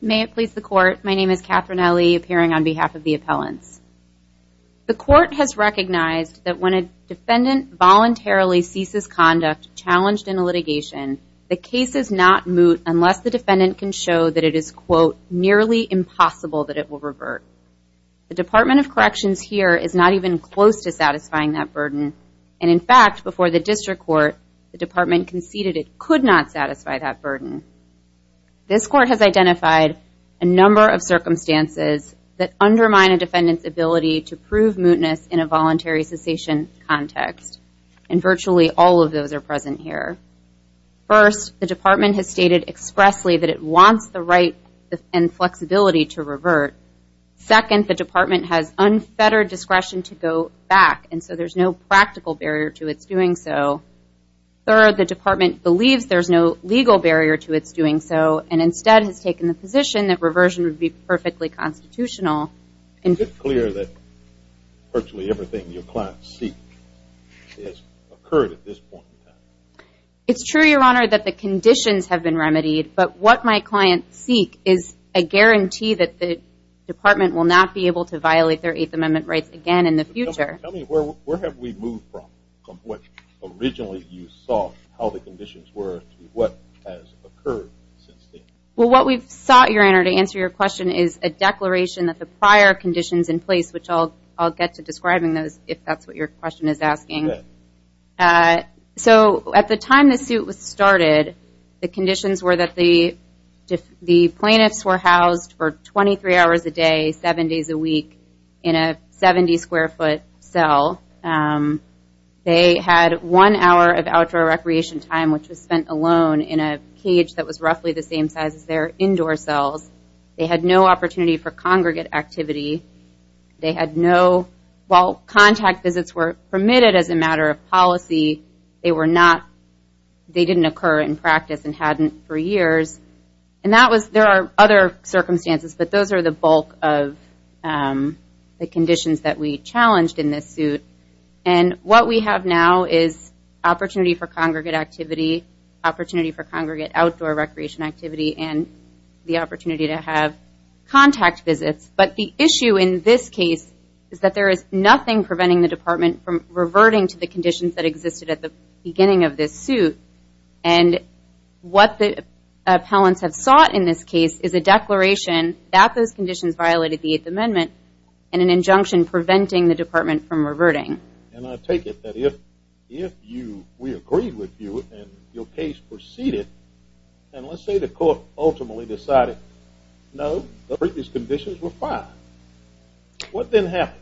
may it please the court my name is Katherine Ellie appearing on behalf of the appellants the court has recognized that when a defendant voluntarily ceases conduct challenged in a litigation the case is not moot unless the defendant can show that it is quote nearly impossible that it will revert the Department of Corrections here is not even close to satisfying that burden and in fact before the district court the department conceded it could not satisfy that burden this court has identified a number of circumstances that undermine a defendant's ability to prove mootness in a voluntary cessation context and virtually all of those are present here first the department has stated expressly that it wants the right and flexibility to revert second the department has unfettered discretion to go back and so there's no practical barrier to its doing so third the department believes there's no legal barrier to its doing so and instead has taken the position that reversion would be perfectly constitutional and it's clear that virtually everything your client see it's true your honor that the conditions have been remedied but what my client seek is a guarantee that the department will not be able to violate their 8th amendment rights again in the future where have we moved from what originally you saw how the conditions were what has occurred well what we've sought your honor to answer your question is a declaration that the prior conditions in place which all I'll get to describing those if that's what your question is asking so at the time the suit was started the conditions were that the the plaintiffs were housed for 23 hours a day seven days a week in a 70 square foot cell they had one hour of outdoor recreation time which was spent alone in a cage that was roughly the same size as their indoor cells they had no opportunity for congregate activity they had no while contact visits were permitted as a matter of policy they were not they didn't occur in practice and hadn't for years and that was there are other circumstances but those are the bulk of the conditions that we challenged in this suit and what we have now is opportunity for congregate activity opportunity for congregate outdoor recreation activity and the opportunity to have contact visits but the issue in this case is that there is nothing preventing the department from what the appellants have sought in this case is a declaration that those conditions violated the eighth amendment and an injunction preventing the department from reverting and I take it that if you we agreed with you and your case proceeded and let's say the court ultimately decided no these conditions were fine what then happens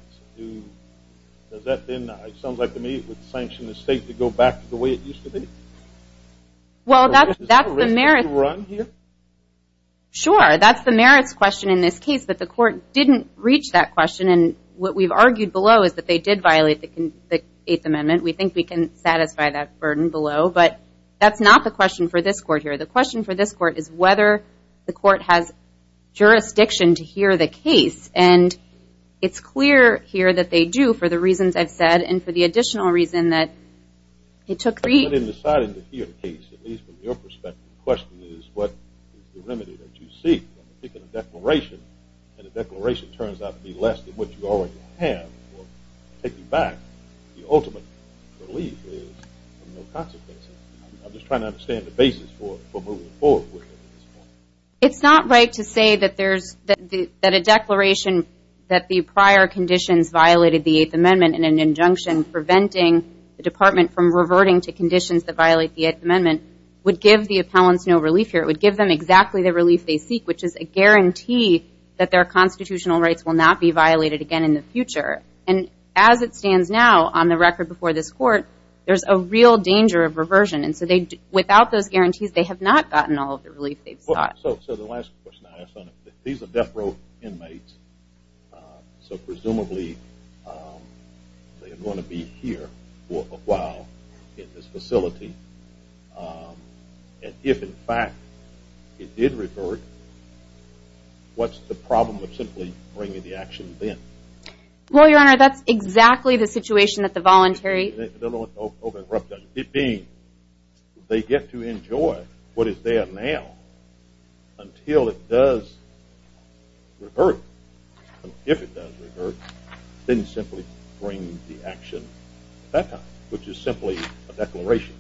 does that then sounds like to me it would sure that's the merits question in this case but the court didn't reach that question and what we've argued below is that they did violate the eighth amendment we think we can satisfy that burden below but that's not the question for this court here the question for this court is whether the court has jurisdiction to hear the case and it's clear here that they do for the reasons I've said and for the additional reason that it took three in deciding to hear the case at least from your perspective question is what the remedy that you seek declaration and the declaration turns out to be less than what you already have taken back the ultimate belief is no consequences I'm just trying to understand the basis for moving forward with it it's not right to say that there's that a declaration that the prior conditions violated the eighth amendment in an injunction preventing the department from reverting to conditions that violate the eighth amendment would give the appellants no relief here it would give them exactly the relief they seek which is a guarantee that their constitutional rights will not be violated again in the future and as it stands now on the record before this court there's a real danger of reversion and so they do without those guarantees they have not gotten all of the relief they've thought so the last question I have fun if these are death row inmates so presumably they are going to be here for a while in this facility and if in fact it did revert what's the problem with simply bringing the action then well your honor that's exactly the situation that the voluntary it being they get to enjoy what is there now until it does revert if it does then simply bring the action back up which is simply a declaration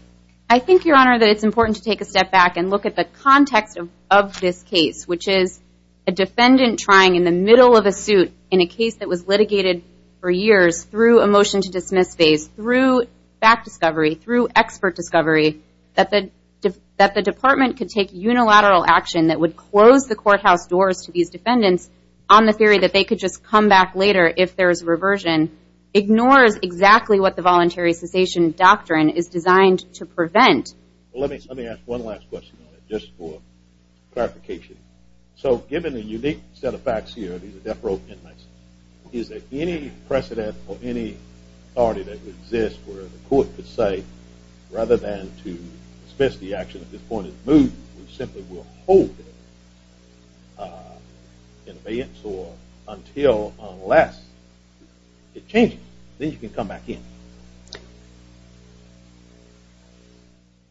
I think your honor that it's important to take a step back and look at the context of this case which is a defendant trying in the middle of a suit in a case that was litigated for years through a motion to dismiss phase through back discovery through expert discovery that the that the department could take unilateral action that would close the courthouse doors to these defendants on the theory that they could just come back later if there's reversion ignores exactly what the voluntary cessation doctrine is designed to prevent let me let me ask one last question just for clarification so given a unique set of facts here these are death row inmates is there any precedent or any party that exists where the court could say rather than to dismiss the action at this point is move we simply will hold in advance or until unless it changes then you can come back in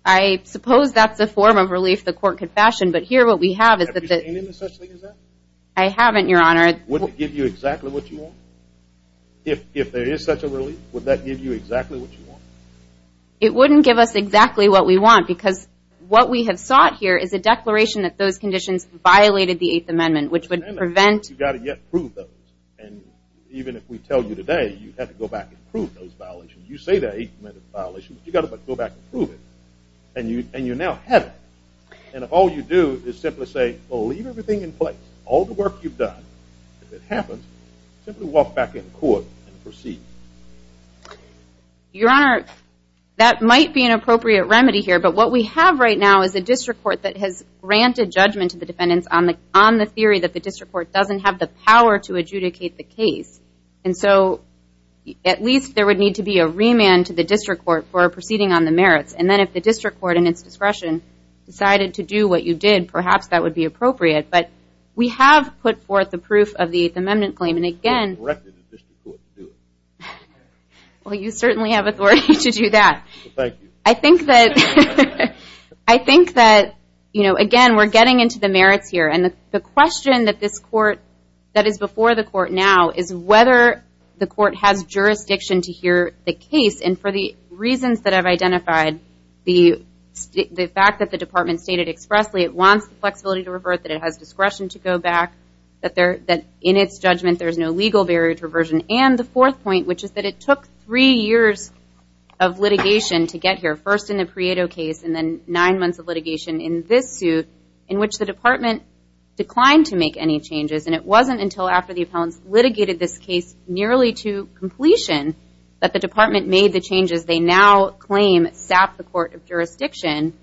I suppose that's a form of relief the court confession but here what we have is that I haven't your honor would give you exactly what you want if there is such a relief would that give you it wouldn't give us exactly what we want because what we have sought here is a declaration that those conditions violated the Eighth Amendment which would prevent you got it yet prove those and even if we tell you today you have to go back and prove those violations you say that eight minute violations you got to go back and prove it and you and you now have it and if all you do is simply say believe everything in place all the work you've done if it happens walk back in court proceed your honor that might be an appropriate remedy here but what we have right now is a district court that has granted judgment to the defendants on the on the theory that the district court doesn't have the power to adjudicate the case and so at least there would need to be a remand to the district court for a proceeding on the merits and then if the district court and its discretion decided to do what you did perhaps that would be appropriate but we have put forth the proof of the Eighth Amendment claim and again well you certainly have authority to do that I think that I think that you know again we're getting into the merits here and the question that this court that is before the court now is whether the court has jurisdiction to hear the case and for the reasons that I've identified the the fact that the department stated expressly it wants the flexibility to revert that it has discretion to go back that there that in its judgment there's no legal barrier to reversion and the fourth point which is that it took three years of litigation to get here first in the Prieto case and then nine months of litigation in this suit in which the department declined to make any changes and it wasn't until after the appellants litigated this case nearly to completion that the department made the changes they now claim sap the Court of Jurisdiction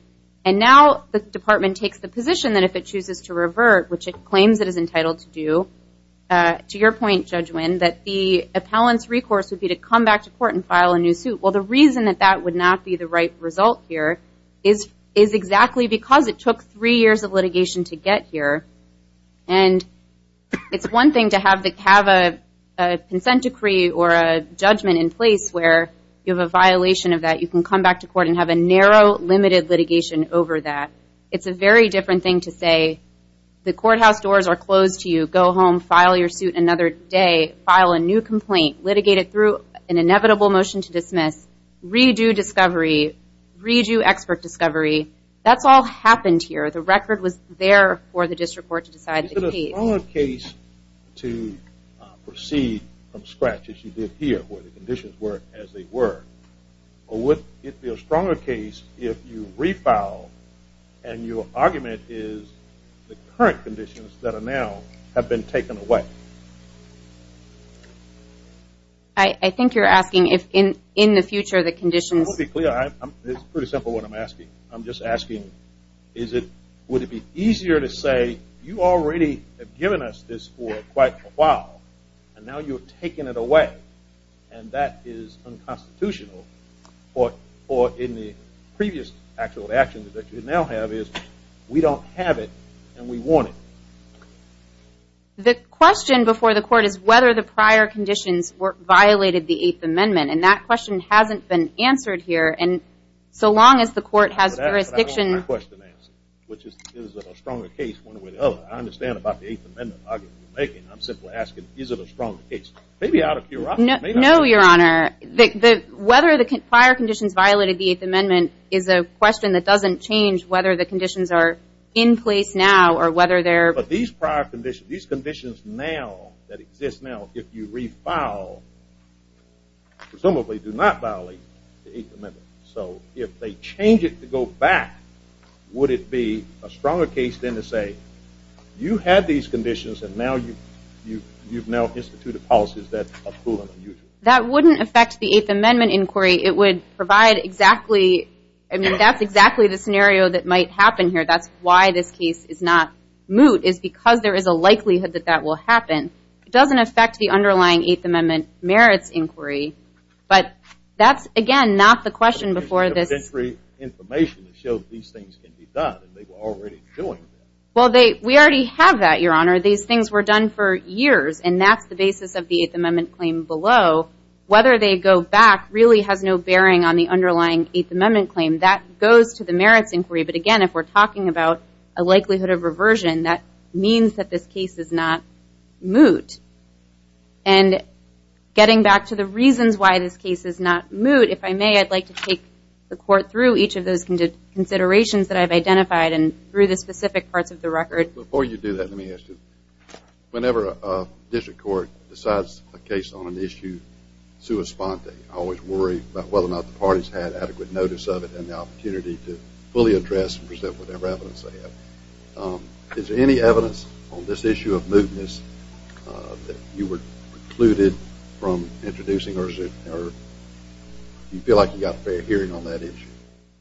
and now the department takes the position that if it chooses to revert which it claims it is entitled to do to your point judge when that the appellants recourse would be to come back to court and file a new suit well the reason that that would not be the right result here is is exactly because it took three years of litigation to get here and it's one thing to have the have a consent decree or a judgment in place where you have a violation of that you can come back to court and have a narrow limited litigation over that it's a very different thing to say the courthouse doors are closed to you go home file your suit another day file a new complaint litigated through an inevitable motion to dismiss redo discovery read you expert discovery that's all happened here the record was there for the district court to decide the case to proceed from scratch as you did here where the conditions were as they were or would it be a stronger case if you refile and your argument is the current conditions that are now have been taken away I think you're asking if in in the future the conditions will be clear I'm pretty simple what I'm asking I'm just asking is it would it be easier to say you already have given us this for quite a while and now you're taking it away and that is unconstitutional or or in the previous actual actions that you now have is we don't have it and we want it the question before the court is whether the prior conditions were violated the Eighth Amendment and that question hasn't been answered here and so long as the court has a restriction question answer which is a stronger case one way the other I understand about the strong it's maybe out of you know your honor the whether the prior conditions violated the Eighth Amendment is a question that doesn't change whether the conditions are in place now or whether there but these prior conditions these conditions now that exists now if you refile presumably do not violate so if they change it to go back would it be a stronger case than to say you had these that wouldn't affect the Eighth Amendment inquiry it would provide exactly and that's exactly the scenario that might happen here that's why this case is not moot is because there is a likelihood that that will happen it doesn't affect the underlying Eighth Amendment merits inquiry but that's again not the question before this three information to show these things can be done they were already doing well they we already have that your honor these things were done for years and that's the basis of the Eighth Amendment claim below whether they go back really has no bearing on the underlying Eighth Amendment claim that goes to the merits inquiry but again if we're talking about a likelihood of reversion that means that this case is not moot and getting back to the reasons why this case is not moot if I may I'd like to take the court through each of those can did considerations that I've identified and through the specific parts of the record before you do that let me ask you whenever a district court decides a case on an issue sua sponte always worry about whether or not the parties had adequate notice of it and the opportunity to fully address and present whatever evidence they have is there any evidence on this issue of mootness that you were precluded from introducing or you feel like you got a fair hearing on that issue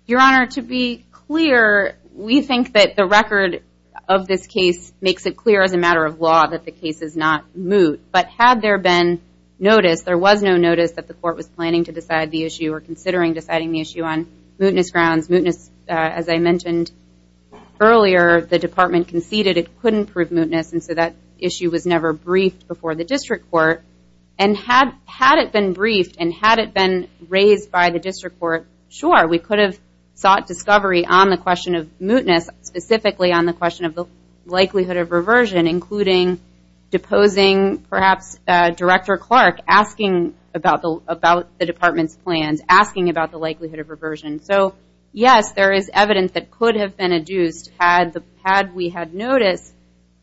your honor to be clear we think that the record of this case makes it clear as a matter of law that the case is not moot but had there been notice there was no notice that the court was planning to decide the issue or considering deciding the issue on mootness grounds mootness as I mentioned earlier the department conceded it couldn't prove mootness and so that issue was never briefed before the district court and had had it been briefed and had it been raised by the on the question of mootness specifically on the question of the likelihood of reversion including deposing perhaps director Clark asking about the about the department's plans asking about the likelihood of reversion so yes there is evidence that could have been adduced had the had we had noticed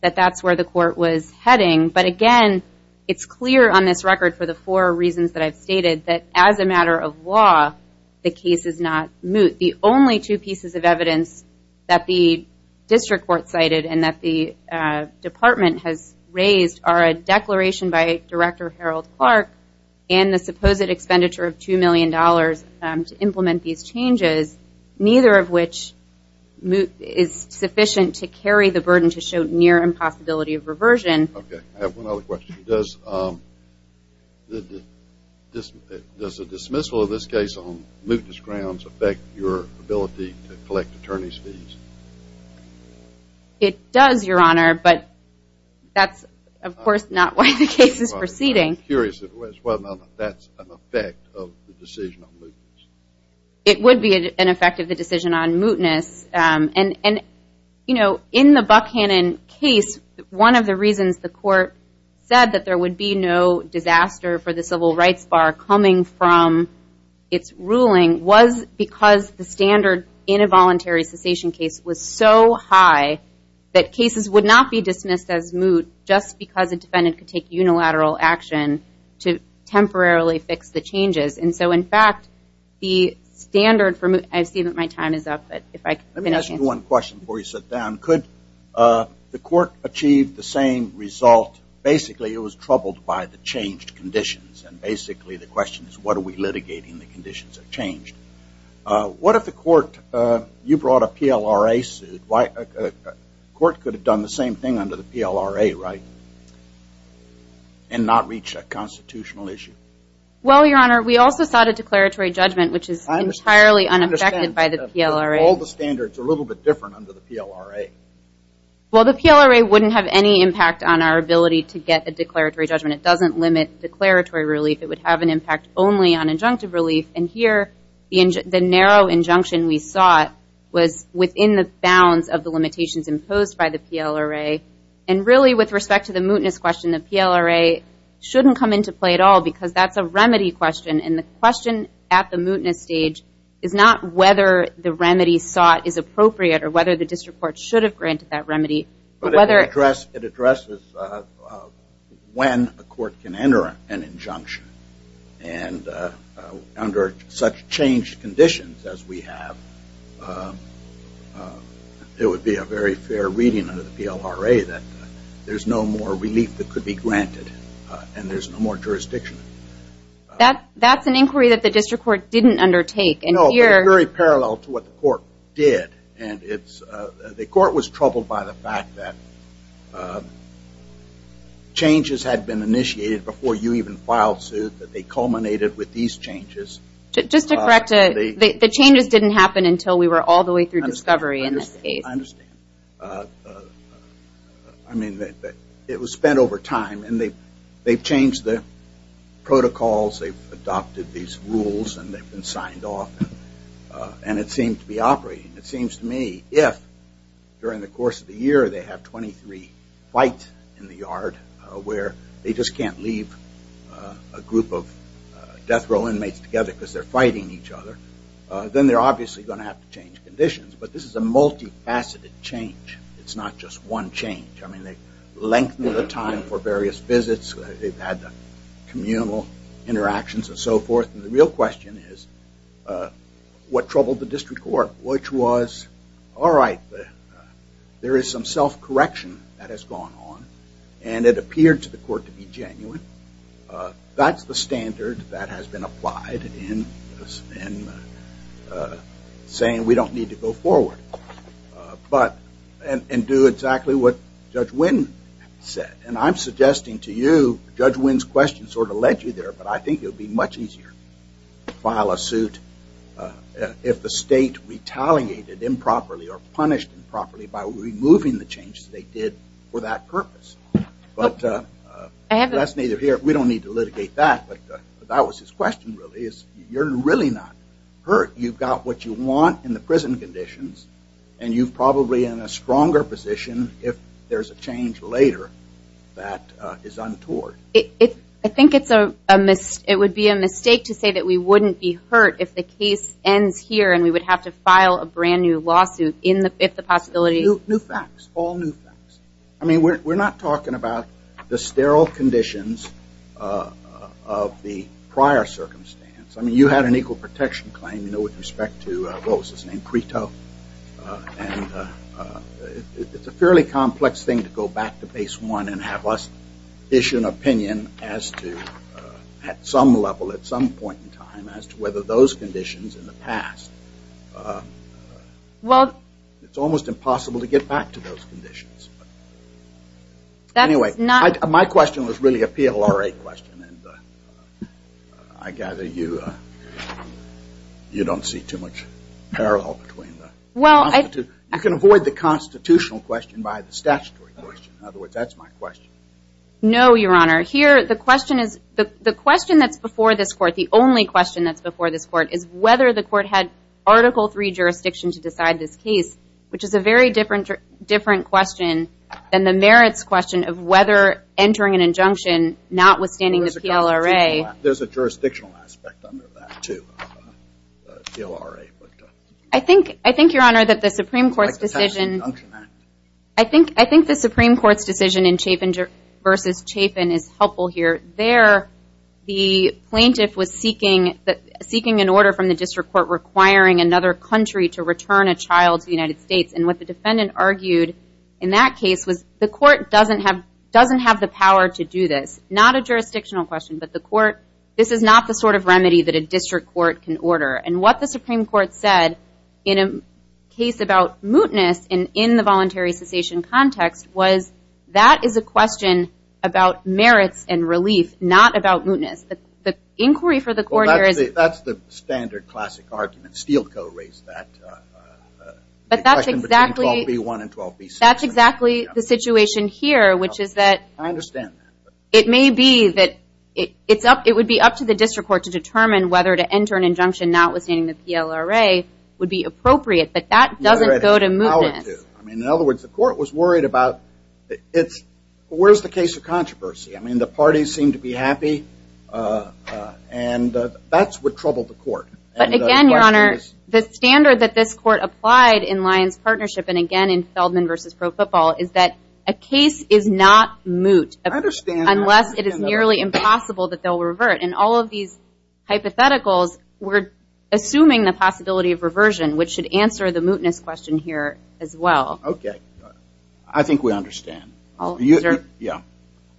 that that's where the court was heading but again it's clear on this record for the four reasons that I've stated that as a matter of law the case is not moot the only two pieces of evidence that the district court cited and that the department has raised are a declaration by director Harold Clark and the supposed expenditure of two million dollars to implement these changes neither of which moot is sufficient to carry the burden to show near impossibility of reversion okay I have one other question does this does a ability to collect attorneys fees it does your honor but that's of course not why the case is proceeding curious that's an effect of the decision it would be an effect of the decision on mootness and and you know in the Buckhannon case one of the reasons the court said that there would be no disaster for the civil rights bar coming from its ruling was because the standard in a voluntary cessation case was so high that cases would not be dismissed as moot just because a defendant could take unilateral action to temporarily fix the changes and so in fact the standard from it I see that my time is up but if I can ask you one question before you sit down could the court achieve the same result basically it was troubled by the changed conditions and basically the question is what are we litigating the conditions have changed what if the court you brought a PLRA suit why a court could have done the same thing under the PLRA right and not reach a constitutional issue well your honor we also sought a declaratory judgment which is I'm entirely unaffected by the PLRA all the standards a little bit different under the PLRA well the PLRA wouldn't have any impact on our ability to get a declaratory judgment it doesn't limit declaratory relief it would have an impact but here the narrow injunction we sought was within the bounds of the limitations imposed by the PLRA and really with respect to the mootness question the PLRA shouldn't come into play at all because that's a remedy question and the question at the mootness stage is not whether the remedy sought is appropriate or whether the district court should have granted that remedy whether address it addresses when a court can enter an injunction and under such changed conditions as we have it would be a very fair reading under the PLRA that there's no more relief that could be granted and there's no more jurisdiction that that's an inquiry that the district court didn't undertake and you're very parallel to what the court did and it's the court was troubled by the fact that changes had been initiated before you even filed suit that they culminated with these changes. Just to correct, the changes didn't happen until we were all the way through discovery in this case. I mean that it was spent over time and they they've changed the protocols they've adopted these rules and they've been signed off and it seemed to be operating it seems to me if during the course of the year they have 23 fight in the yard where they just can't leave a group of death row inmates together because they're fighting each other then they're obviously going to have to change conditions but this is a multi-faceted change it's not just one change I mean they lengthen the time for various visits they've had the communal interactions and so forth and the real question is what troubled the district court which was all right there is some self-correction that has gone on and it appeared to the court to be genuine that's the standard that has been applied in saying we don't need to go forward but and do exactly what Judge Wynn said and I'm suggesting to you Judge Wynn's question sort of led you there but I think it would be much easier to file a suit if the state retaliated improperly or punished improperly by removing the changes they did for that purpose but that's neither here we don't need to litigate that but that was his question really is you're really not hurt you've got what you want in the prison conditions and you've probably in a stronger position if there's a change later that is untoward it I think it's a miss it would be a mistake to say that we wouldn't be hurt if the case ends here and we would have to file a brand-new lawsuit in the if the possibility new facts all new I mean we're not talking about the sterile conditions of the prior circumstance I mean you had an equal protection claim you know with respect to roses named preto it's a fairly complex thing to go back to base one and have us issue an opinion as to at some level at some point in time as to whether those conditions in the past well it's almost impossible to get back to those conditions anyway not my question was really a PLR a question and I gather you you don't see too much parallel between well I can avoid the constitutional question by the statutory question in other words that's my question no your honor here the question is the question that's before this court the only question that's before this court is whether the court had article 3 jurisdiction to decide this case which is a very different different question than the merits question of whether entering an injunction notwithstanding the PLRA there's a jurisdictional aspect under that too I think I think your honor that the Supreme Court's decision I think I think the Supreme Court's decision in chafing versus chafing is helpful here there the plaintiff was seeking that seeking an order from the district court requiring another country to return a child to the United States and what the defendant argued in that case was the court doesn't have doesn't have the power to do this not a jurisdictional question but the court this is not the sort of remedy that a district court can order and what the Supreme Court said in a case about mootness and in the voluntary cessation context was that is a question about that's the standard classic argument Steele co-raised that but that's exactly one and 12 piece that's exactly the situation here which is that I understand it may be that it's up it would be up to the district court to determine whether to enter an injunction notwithstanding the PLRA would be appropriate but that doesn't go to move I mean in other words the court was worried about it's where's the case of controversy I mean the parties seem to be happy and that's what troubled the court but again your honor the standard that this court applied in Lions partnership and again in Feldman versus pro football is that a case is not moot understand unless it is nearly impossible that they'll revert and all of these hypotheticals we're assuming the possibility of reversion which should answer the mootness question here as well okay I think we understand oh yeah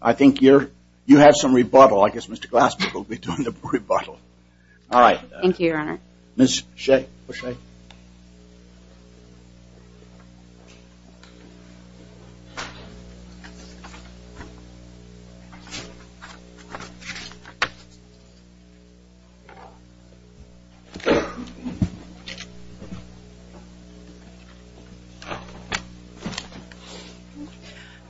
I think you're you have some rebuttal I guess mr. Glassman will be doing the rebuttal all right thank you your honor miss shake shake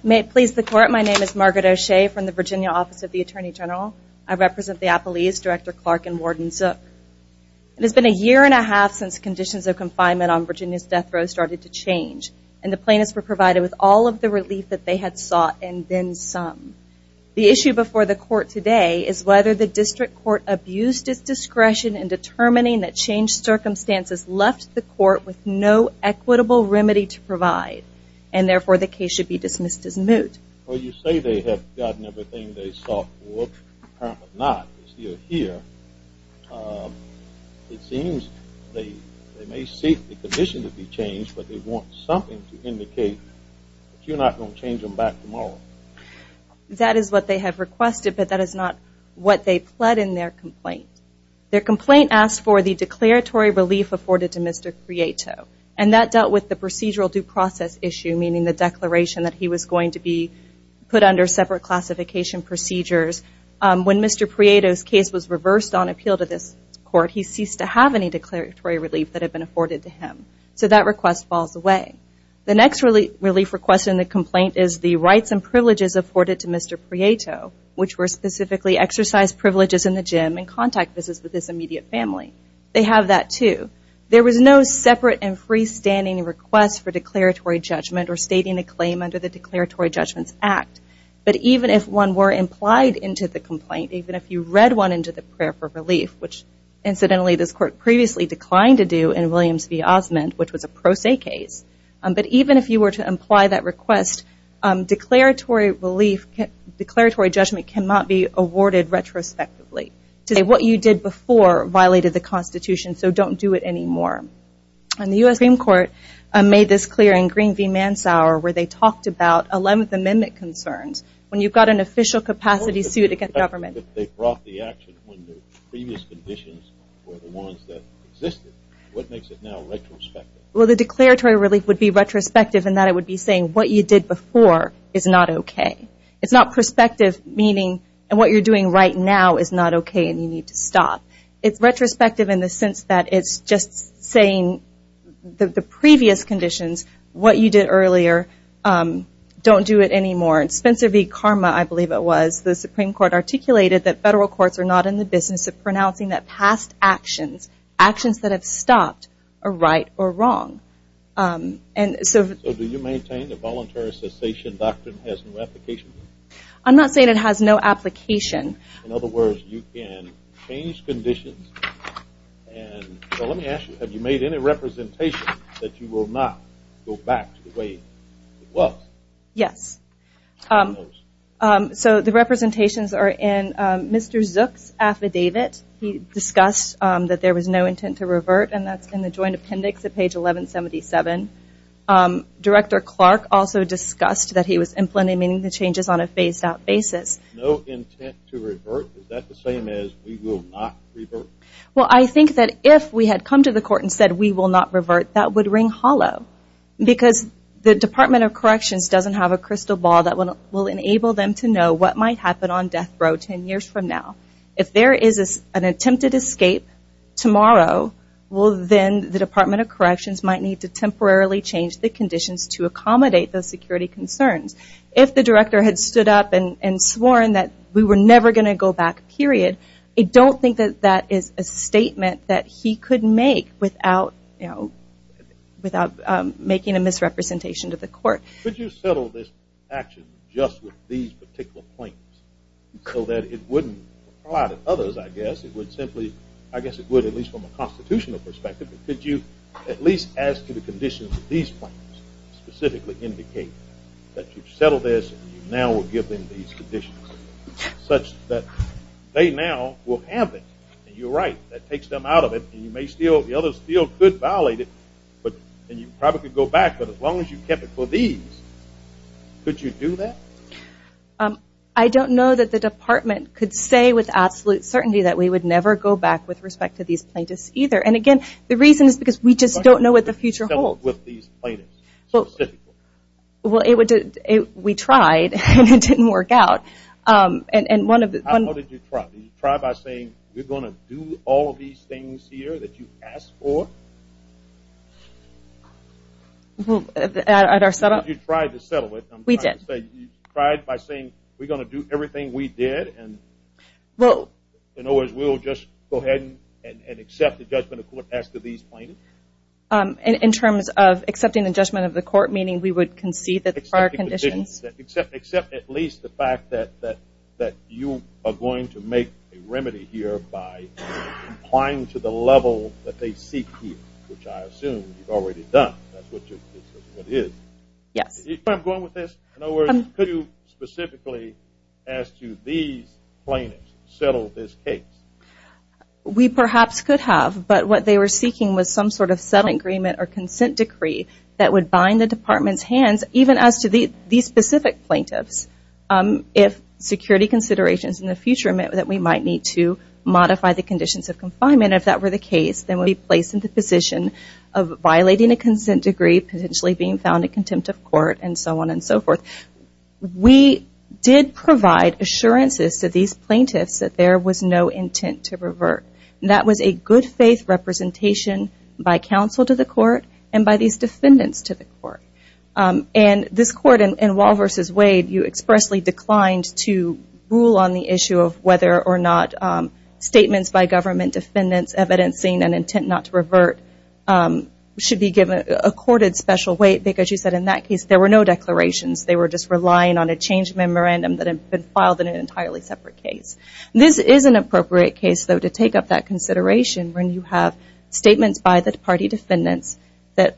may it please the court my name is Margaret O'Shea from the Virginia Office of the Attorney General I represent the Apple East director Clark and wardens up it has been a year and a half since conditions of confinement on Virginia's death row started to change and the plaintiffs were provided with all of the relief that they had sought and then some the issue before the court today is whether the district court abused its discretion in determining that change circumstances left the court with no equitable remedy to provide and not here it seems they may seek the condition to be changed but they want something to indicate you're not going to change them back tomorrow that is what they have requested but that is not what they pled in their complaint their complaint asked for the declaratory relief afforded to mr. creato and that dealt with the procedural due process issue meaning the declaration that he was going to be put under separate classification procedures when mr. Prieto's case was reversed on appeal to this court he ceased to have any declaratory relief that had been afforded to him so that request falls away the next really relief request in the complaint is the rights and privileges afforded to mr. Prieto which were specifically exercised privileges in the gym and contact business with this immediate family they have that too there was no separate and freestanding requests for declaratory judgment or declaratory judgments act but even if one were implied into the complaint even if you read one into the prayer for relief which incidentally this court previously declined to do in Williams v. Osmond which was a pro se case but even if you were to imply that request declaratory relief declaratory judgment cannot be awarded retrospectively today what you did before violated the Constitution so don't do it anymore and the US Supreme Court made this clear in Green v. Mansour where they talked about 11th Amendment concerns when you've got an official capacity to get government well the declaratory relief would be retrospective and that it would be saying what you did before is not okay it's not perspective meaning and what you're doing right now is not okay and you need to stop it's retrospective in the sense that it's just saying that the previous conditions what you did earlier don't do it anymore and Spencer v. Karma I believe it was the Supreme Court articulated that federal courts are not in the business of pronouncing that past actions actions that have stopped are right or wrong and so do you maintain the voluntary cessation doctrine has no application I'm not have you made any representation that you will not go back to the way it was yes so the representations are in mr. Zooks affidavit he discussed that there was no intent to revert and that's in the joint appendix at page 1177 director Clark also discussed that he was implementing the changes on a phased out basis well I think that if we had come to the court and said we will not revert that would ring hollow because the Department of Corrections doesn't have a crystal ball that one will enable them to know what might happen on death row ten years from now if there is an attempted escape tomorrow well then the Department of Corrections might need to temporarily change the conditions to and sworn that we were never going to go back period I don't think that that is a statement that he could make without you know without making a misrepresentation to the court could you settle this action just with these particular points so that it wouldn't a lot of others I guess it would simply I guess it would at least from a constitutional perspective but did you at least as to the conditions of these points specifically indicate that you will give them these conditions such that they now will have it you're right that takes them out of it you may steal the others feel good violated but then you probably go back but as long as you kept it for these could you do that I don't know that the department could say with absolute certainty that we would never go back with respect to these plaintiffs either and again the reason is because we just don't know what the future holds with these well well it did it we tried and it didn't work out and and one of the try by saying we're going to do all these things here that you asked for well at our setup you tried to settle it we did say you tried by saying we're going to do everything we did and well you know as we'll just go ahead and accept the judgment of court after these plaintiffs in terms of accepting the judgment of the court meaning we would concede that our conditions except except at least the fact that that that you are going to make a remedy here by applying to the level that they seek you which I assume you've already done that's what it is yes I'm going with this no words could you specifically as to these plaintiffs settle this case we perhaps could have but what they were seeking was some sort of settlement agreement or consent decree that would bind the department's hands even as to the these specific plaintiffs if security considerations in the future meant that we might need to modify the conditions of confinement if that were the case that would be placed in the position of violating a consent degree potentially being found in contempt of court and so on and so forth we did provide assurances to these plaintiffs that there was no intent to to the court and by these defendants to the court and this court in Wall versus Wade you expressly declined to rule on the issue of whether or not statements by government defendants evidencing an intent not to revert should be given a courted special weight because you said in that case there were no declarations they were just relying on a change memorandum that have been filed in an entirely separate case this is an appropriate case though to take up that defendants that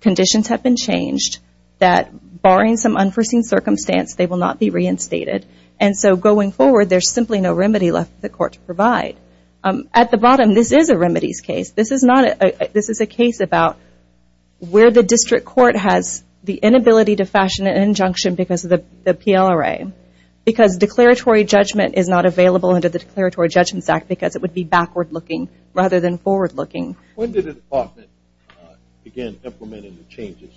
conditions have been changed that barring some unforeseen circumstance they will not be reinstated and so going forward there's simply no remedy left the court to provide at the bottom this is a remedies case this is not a this is a case about where the district court has the inability to fashion an injunction because of the PLRA because declaratory judgment is not available under the declaratory judgments act because it would be again implementing the changes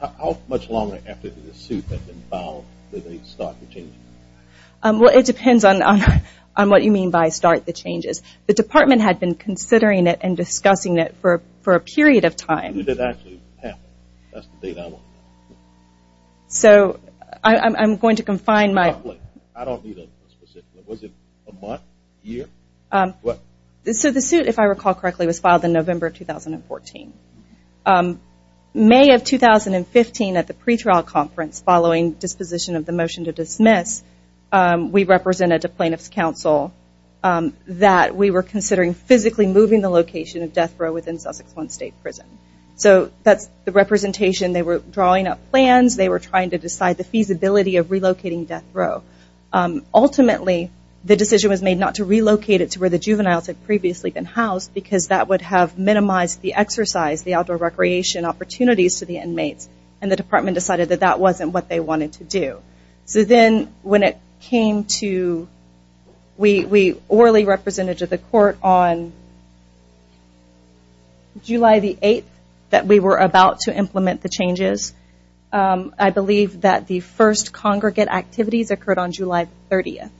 how much longer after the suit that's been filed that they start to change well it depends on on what you mean by start the changes the department had been considering it and discussing it for for a period of time so I'm going to confine my I don't know what this is if I recall correctly was filed in November 2014 May of 2015 at the pretrial conference following disposition of the motion to dismiss we represented a plaintiff's counsel that we were considering physically moving the location of death row within Sussex one state prison so that's the representation they were drawing up plans they were trying to ultimately the decision was made not to relocate it to where the juveniles had previously been housed because that would have minimized the exercise the outdoor recreation opportunities to the inmates and the department decided that that wasn't what they wanted to do so then when it came to we we orally represented to the court on July the 8th that we were about to implement the July 30th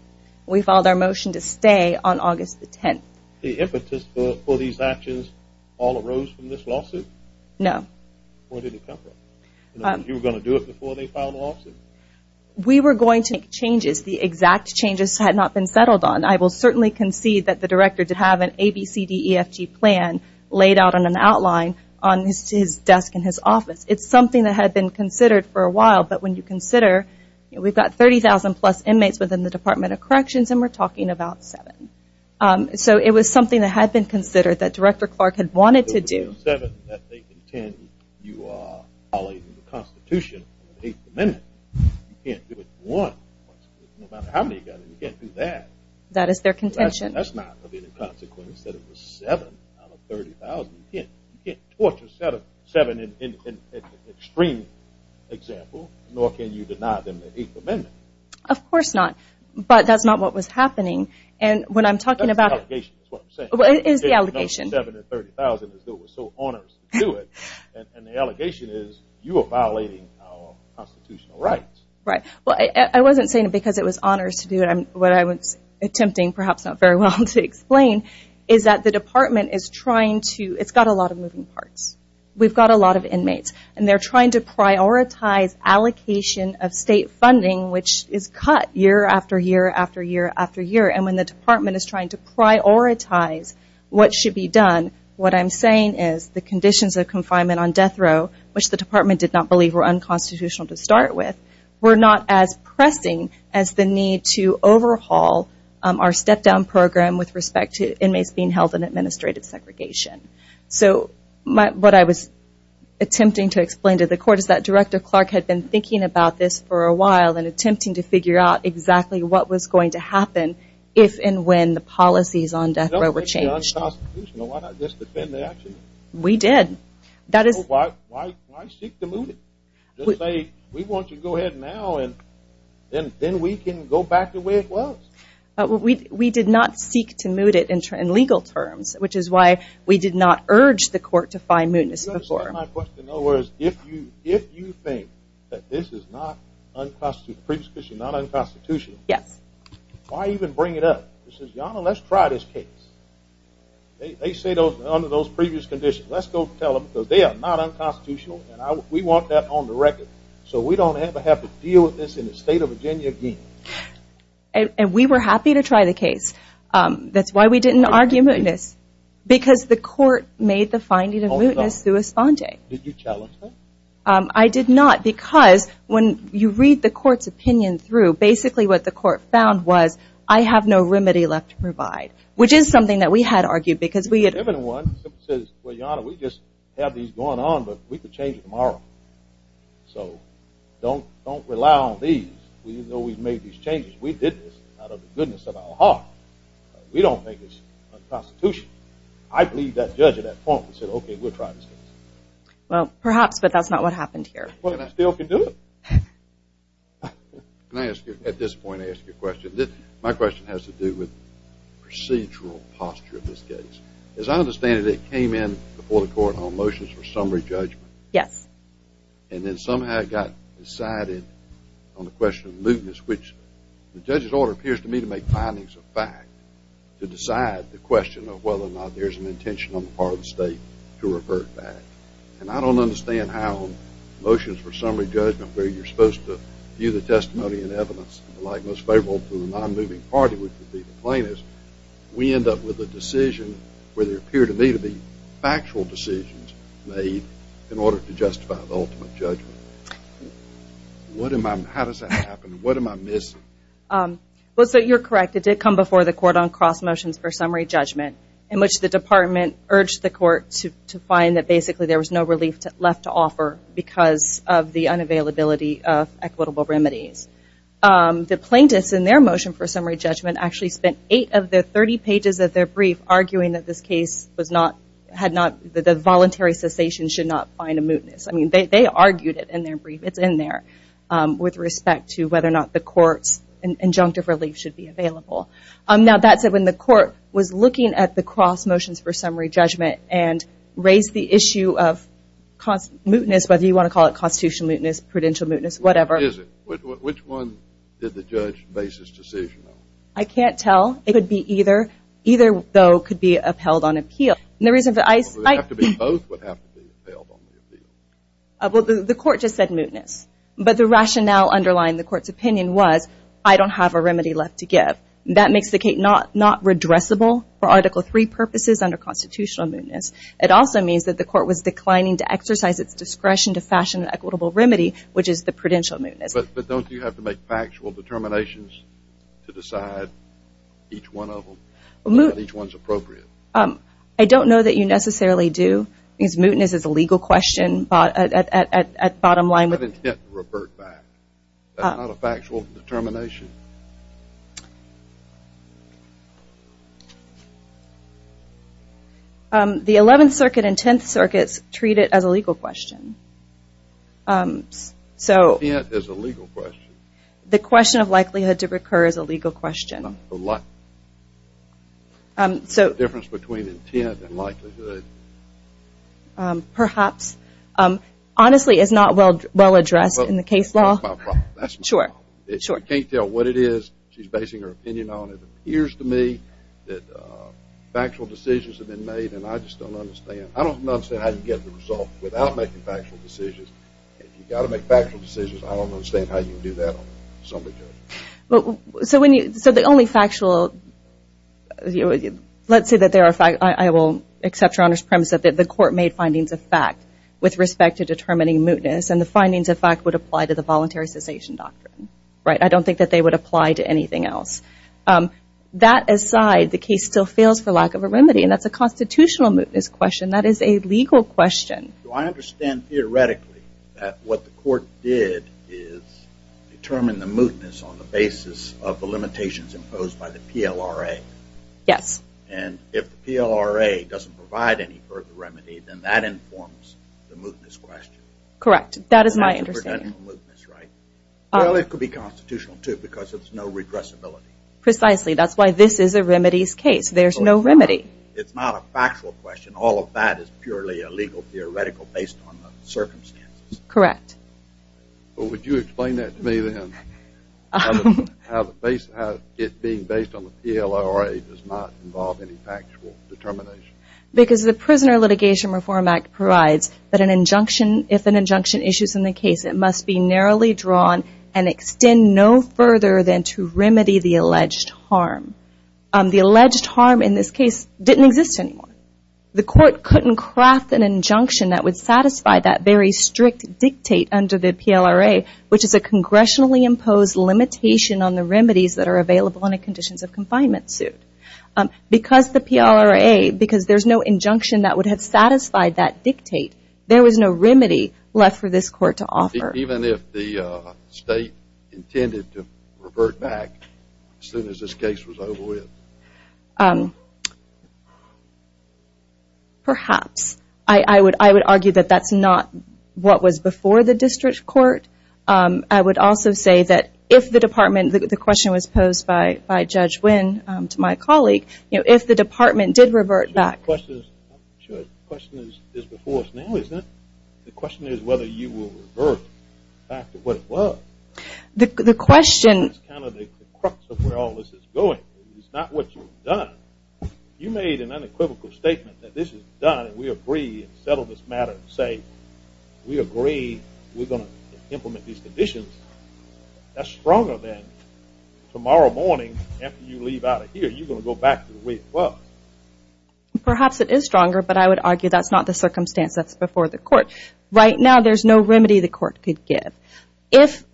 we filed our motion to stay on August the 10th the impetus for these actions all arose from this lawsuit no we were going to make changes the exact changes had not been settled on I will certainly concede that the director to have an ABCDEFG plan laid out on an outline on his desk in his office it's something that had been considered for a while but when you consider we've got 30,000 plus inmates within the Department of Corrections and we're talking about seven so it was something that had been considered that director Clark had wanted to do that is their contention that's not the consequence that it was 7 out of 30,000. You can't torture seven in an extreme example nor can you deny them the 8th amendment. Of course not but that's not what was happening and what I'm talking about is the allegation. 7 out of 30,000 is what we're so honored to do it and the allegation is you are violating our constitutional rights. Right well I wasn't saying it because it was honors to do it I'm what I was attempting perhaps not very well to explain is that the department is trying to it's got a lot of moving parts. We've got a lot of inmates and they're trying to prioritize allocation of state funding which is cut year after year after year after year and when the department is trying to prioritize what should be done what I'm saying is the conditions of confinement on death row which the department did not believe were unconstitutional to start with were not as pressing as the need to overhaul our step down program with respect to inmates being held in administrative segregation. So what I was attempting to explain to the court is that Director Clark had been thinking about this for a while and attempting to figure out exactly what was going to happen if and when the policies on death row were changed. We did. That is why I seek to move it. We want to go ahead now and then we can go back to where it was. We did not seek to move it in legal terms which is why we did not urge the court to find mootness before. If you think that this is not unconstitutional. Yes. Why even bring it up? Let's try this case. They say those under those previous conditions let's go tell them because they are not unconstitutional and we want that on the record so we don't ever have to deal with this in the state of Virginia again. And we were happy to try the case. That's why we didn't argue mootness. Because the court made the finding of mootness through a sponte. Did you challenge that? I did not because when you read the court's opinion through basically what the court found was I have no remedy left to provide which is something that we had argued because we had given one says well your honor we just have these going on but we could change it tomorrow. So don't don't rely on these. We know we've made these changes. We did this out of the goodness of our heart. We don't think it's unconstitutional. I believe that judge at that point said okay we'll try this case. Well perhaps but that's not what happened here. But I still can do it. Can I ask you at this point ask you a question. My question has to do with procedural posture of this case. As I understand it came in before the court on motions for summary judgment. Yes. And then somehow it got decided on the question of mootness which the judge's order appears to me to make findings of fact to decide the question of whether or not there's an intention on the part of the state to revert back. And I don't understand how motions for summary judgment where you're supposed to view the testimony and evidence like most favorable to the non-moving party would be the plaintiffs. We end up with a decision where they appear to me to be factual decisions made in order to justify the ultimate judgment. What am I, how does that happen? What am I missing? Well so you're correct it did come before the court on cross motions for summary judgment in which the department urged the court to to find that basically there was no relief left to offer because of the unavailability of equitable remedies. The plaintiffs in their motion for summary judgment actually spent eight of the 30 pages of their brief arguing that this case was not had not the voluntary cessation should not find a mootness. I mean they argued it in their brief it's in there with respect to whether or not the courts and injunctive relief should be available. Now that said when the court was looking at the cross motions for summary judgment and raised the issue of mootness whether you want to call it constitutional mootness prudential mootness whatever. Which one did the judge basis decision? I can't tell it would be either either though could be upheld on appeal and the reason that I the court just said mootness but the rationale underlying the courts opinion was I don't have a remedy left to give. That makes the case not not redressable for article three purposes under constitutional mootness. It also means that the court was declining to exercise its discretion to fashion an equitable remedy which is the prudential mootness. But don't you have to make factual determinations to decide each one of them? Each one's appropriate. I don't know that you necessarily do because mootness is a legal question at bottom line. That's not intent to revert back. That's not a factual determination. The 11th circuit and 10th circuits treat it as a legal question. So the question of likelihood to recur is a legal question. The difference between intent and likelihood. Perhaps. Honestly is not well well addressed in the case sure it's okay to tell what it is she's basing her opinion on it appears to me that factual decisions have been made and I just don't understand I don't know how you get the result without making factual decisions you got to make factual decisions I don't understand how you do that somebody so when you said the only factual you let's say that there are fact I will accept your Honor's premise that the court made findings of fact with respect to the voluntary cessation doctrine right I don't think that they would apply to anything else that aside the case still fails for lack of a remedy and that's a constitutional mootness question that is a legal question I understand theoretically what the court did is determine the mootness on the basis of the limitations imposed by the PLRA yes and if the PLRA doesn't provide any remedy then that informs the mootness question correct that is my understanding right well it could be constitutional too because it's no regressibility precisely that's why this is a remedies case there's no remedy it's not a factual question all of that is purely a legal theoretical based on the circumstances correct would you explain that to me then how the base how it being based on the PLRA does not involve any factual determination because the prisoner litigation reform act provides that an injunction if an injunction issues in the case it must be narrowly drawn and extend no further than to remedy the alleged harm the alleged harm in this case didn't exist anymore the court couldn't craft an injunction that would satisfy that very strict dictate under the PLRA which is a congressionally imposed limitation on the remedies that are available in a conditions of confinement suit because the PLRA because there's no injunction that would have satisfied that dictate there was no remedy left for this court to offer even if the state intended to revert back soon as this case was over with perhaps I would I would argue that that's not what was before the district court I would also say that if the department that the question was posed by by Judge Wynn to my colleague if the department did revert back. The question is whether you will revert back to what it was. The question is kind of the crux of where all this is going it's not what you've done you made an unequivocal statement that this is done we agree and settle this matter and say we agree we're going to implement these conditions that's stronger than tomorrow morning after you leave out of here you're going to go back to the way it was. Perhaps it is stronger but I would argue that's not the circumstance that's before the court right now there's no remedy the court could give if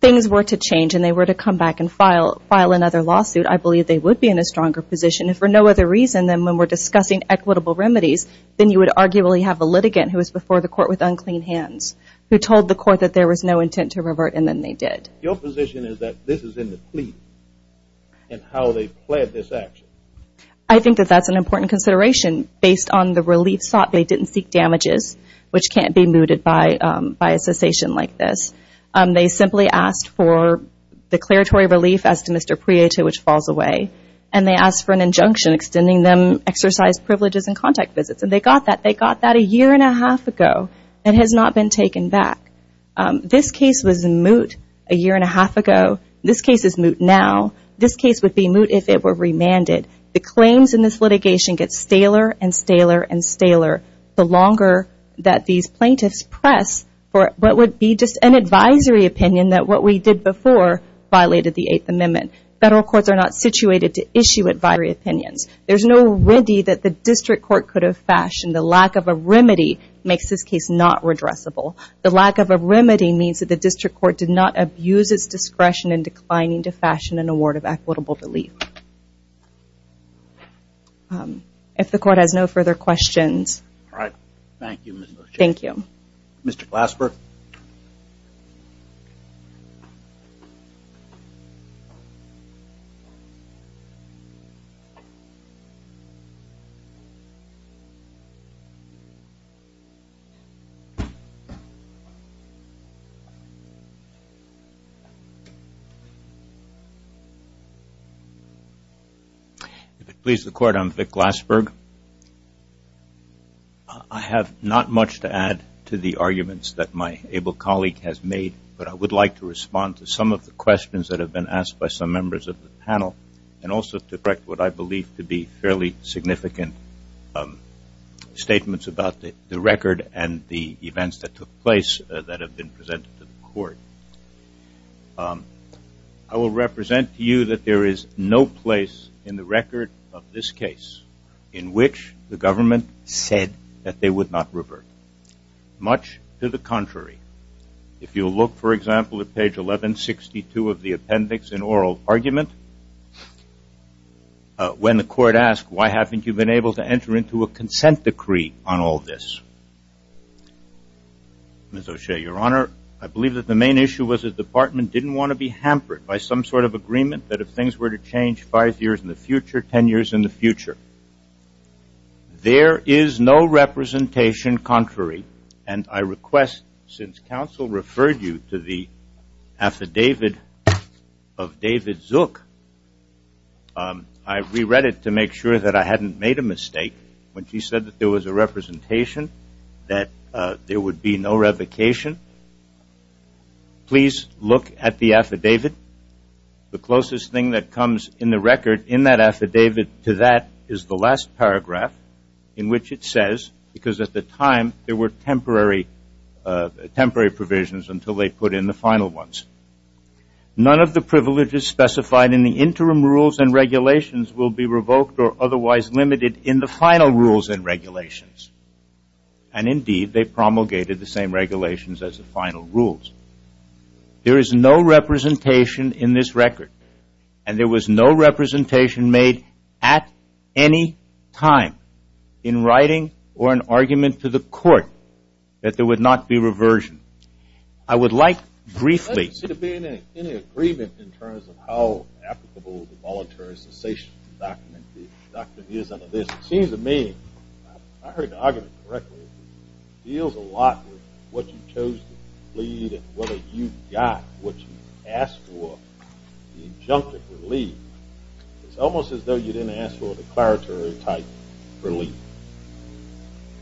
things were to change and they were to come back and file file another lawsuit I believe they would be in a stronger position if for no other reason than when we're discussing equitable remedies then you would arguably have a litigant who was before the court with unclean hands who told the court that there was no intent to I think that that's an important consideration based on the relief sought they didn't seek damages which can't be mooted by a cessation like this they simply asked for declaratory relief as to Mr. Prieto which falls away and they asked for an injunction extending them exercise privileges and contact visits and they got that they got that a year and a half ago and has not been taken back this case was in moot a year and a half ago this case is moot now this case would be moot if it were remanded the claims in this litigation gets staler and staler and staler the longer that these plaintiffs press for what would be just an advisory opinion that what we did before violated the 8th Amendment federal courts are not situated to issue advisory opinions there's no remedy that the district court could have fashioned the lack of a remedy makes this case not addressable the lack of a remedy means that the district court did not abuse its discretion in declining to fashion an award of equitable belief if the court has no further questions thank you thank you Mr. Glasper please the court I'm Vic Glasper I have not much to add to the arguments that my able colleague has made but I would like to respond to some of the questions that have been asked by some members of the panel and also correct what I believe to be fairly significant statements about the record and the events that took place that have been presented to the court I will represent to you that there is no place in the record of this case in which the government said that they would not revert much to the contrary if you look for example at page 1162 of the record ask why haven't you been able to enter into a consent decree on all this Ms. O'Shea your honor I believe that the main issue was the department didn't want to be hampered by some sort of agreement that if things were to change five years in the future ten years in the future there is no representation contrary and I request since counsel referred you to the affidavit of David Zook I re-read it to make sure that I hadn't made a mistake when she said that there was a representation that there would be no revocation please look at the affidavit the closest thing that comes in the record in that affidavit to that is the last paragraph in which it says because at the time there were temporary temporary provisions until they put in the final ones none of the privileges specified in the interim rules and regulations will be revoked or otherwise limited in the final rules and regulations and indeed they promulgated the same regulations as the final rules there is no representation in this record and there was no representation made at any time in writing or an argument to the court that there would not be reversion I would like briefly to be in any agreement in terms of how applicable the voluntary cessation document is under this it seems to me I heard the argument correctly deals a lot with what you chose to lead and whether you got what you asked for the injunctive relief it's almost as though you didn't ask for the declaratory type relief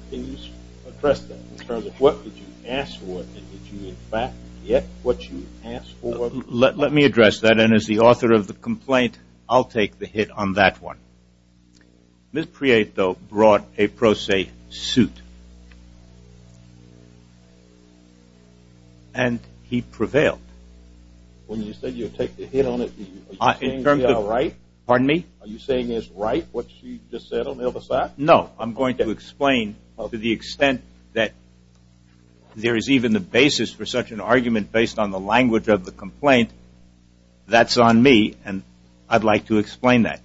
please address that in terms of what did you ask for it did you in fact get what let me address that and as the author of the complaint I'll take the hit on that one miss Prieto brought a pro se suit and he prevailed when you said you take the hit on it in terms of right pardon me are you saying is right what you just said on the other side no I'm going to explain to the extent that there is even the basis for such an argument based on the language of the complaint that's on me and I'd like to explain that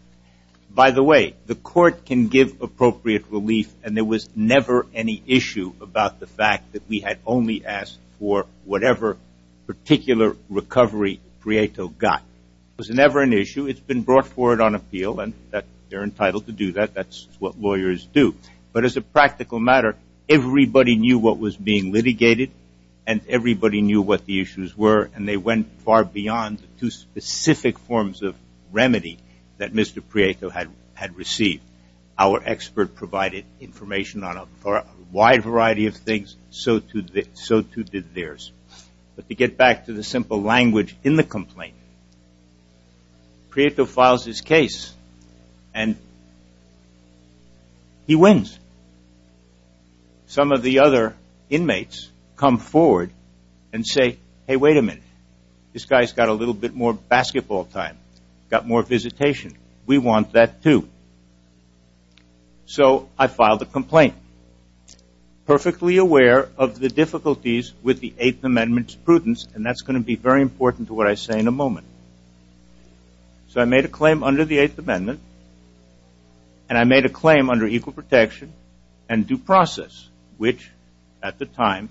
by the way the court can give appropriate relief and there was never any issue about the fact that we had only asked for whatever particular recovery Prieto got was never an issue it's been brought forward on appeal and that they're entitled to do that that's what lawyers do but as a practical matter everybody knew what was being litigated and everybody knew what the issues were and they went far beyond the two specific forms of remedy that mr. Prieto had had received our expert provided information on a wide variety of things so to that so to did theirs but to get back to the simple language in the complaint Prieto files his case and he wins some of the other inmates come forward and say hey wait a minute this guy's got a little bit more basketball time got more visitation we want that too so I filed a complaint perfectly aware of the difficulties with the and that's going to be very important to what I say in a moment so I made a claim under the Eighth Amendment and I made a claim under equal protection and due process which at the time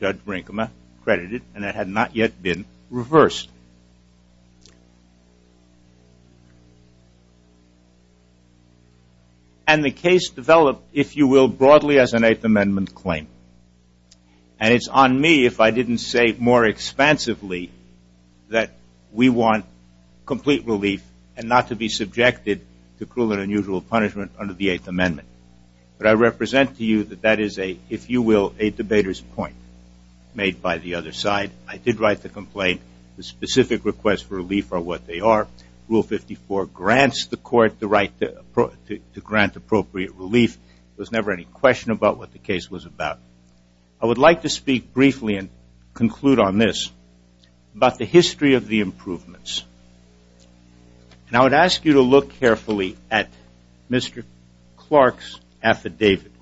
judge Brinkman credited and it had not yet been reversed and the case developed if you will broadly as an Eighth Amendment claim and it's on me if I didn't say more expansively that we want complete relief and not to be subjected to cruel and unusual punishment under the Eighth Amendment but I represent to you that that is a if you will a debater's point made by the other side I did write the complaint the specific request for relief are what they are rule 54 grants the court the right to grant appropriate relief was never any question about what the case was about I would like to speak briefly and conclude on this about the history of the improvements and I would ask you to look carefully at mr. Clark's affidavit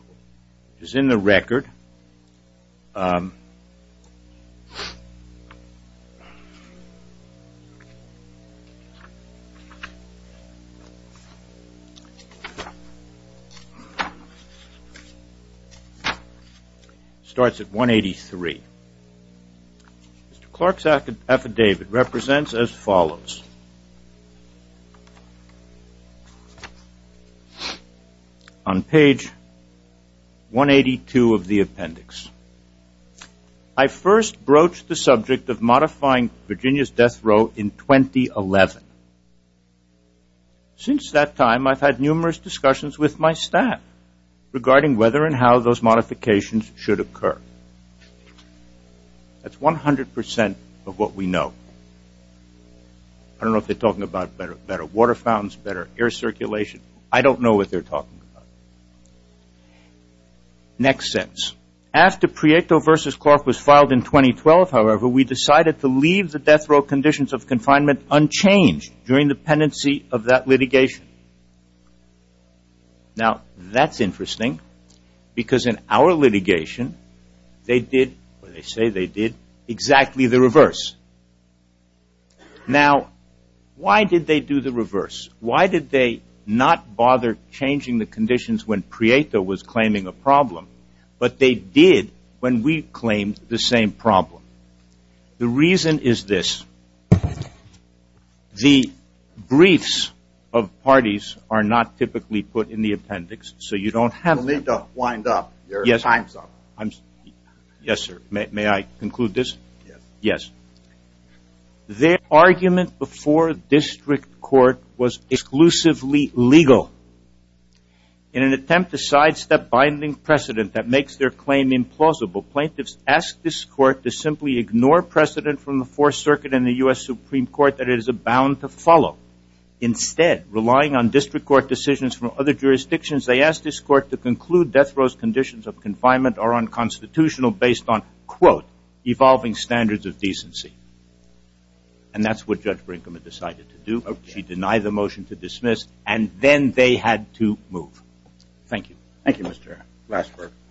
is in the record starts at 183 Mr. Clark's affidavit represents as follows on page 182 of the appendix I first broached the subject of modifying Virginia's death in 2011 since that time I've had numerous discussions with my staff regarding whether and how those modifications should occur that's 100% of what we know I don't know if they're talking about better better water fountains better air circulation I don't know what they're talking about next sense after Prieto vs. Clark was filed in 2012 however we decided to leave the death row conditions of confinement unchanged during the pendency of that litigation now that's interesting because in our litigation they did they say they did exactly the reverse now why did they do the reverse why did they not bother changing the conditions when Prieto was claiming a problem but they did when we claimed the same problem the reason is this the briefs of parties are not typically put in the appendix so you don't have to wind up yes I'm yes sir may I conclude this yes their argument before district court was exclusively legal in an attempt to sidestep binding precedent that makes their claim implausible plaintiffs asked this court to simply ignore precedent from the Fourth Circuit in the US Supreme Court that it is a bound to follow instead relying on district court decisions from other jurisdictions they asked this court to conclude death rows conditions of confinement are unconstitutional based on quote evolving standards of decency and that's what judge Brinkman decided to do she denied the motion to dismiss and then they had to move thank you thank you mr. Westbrook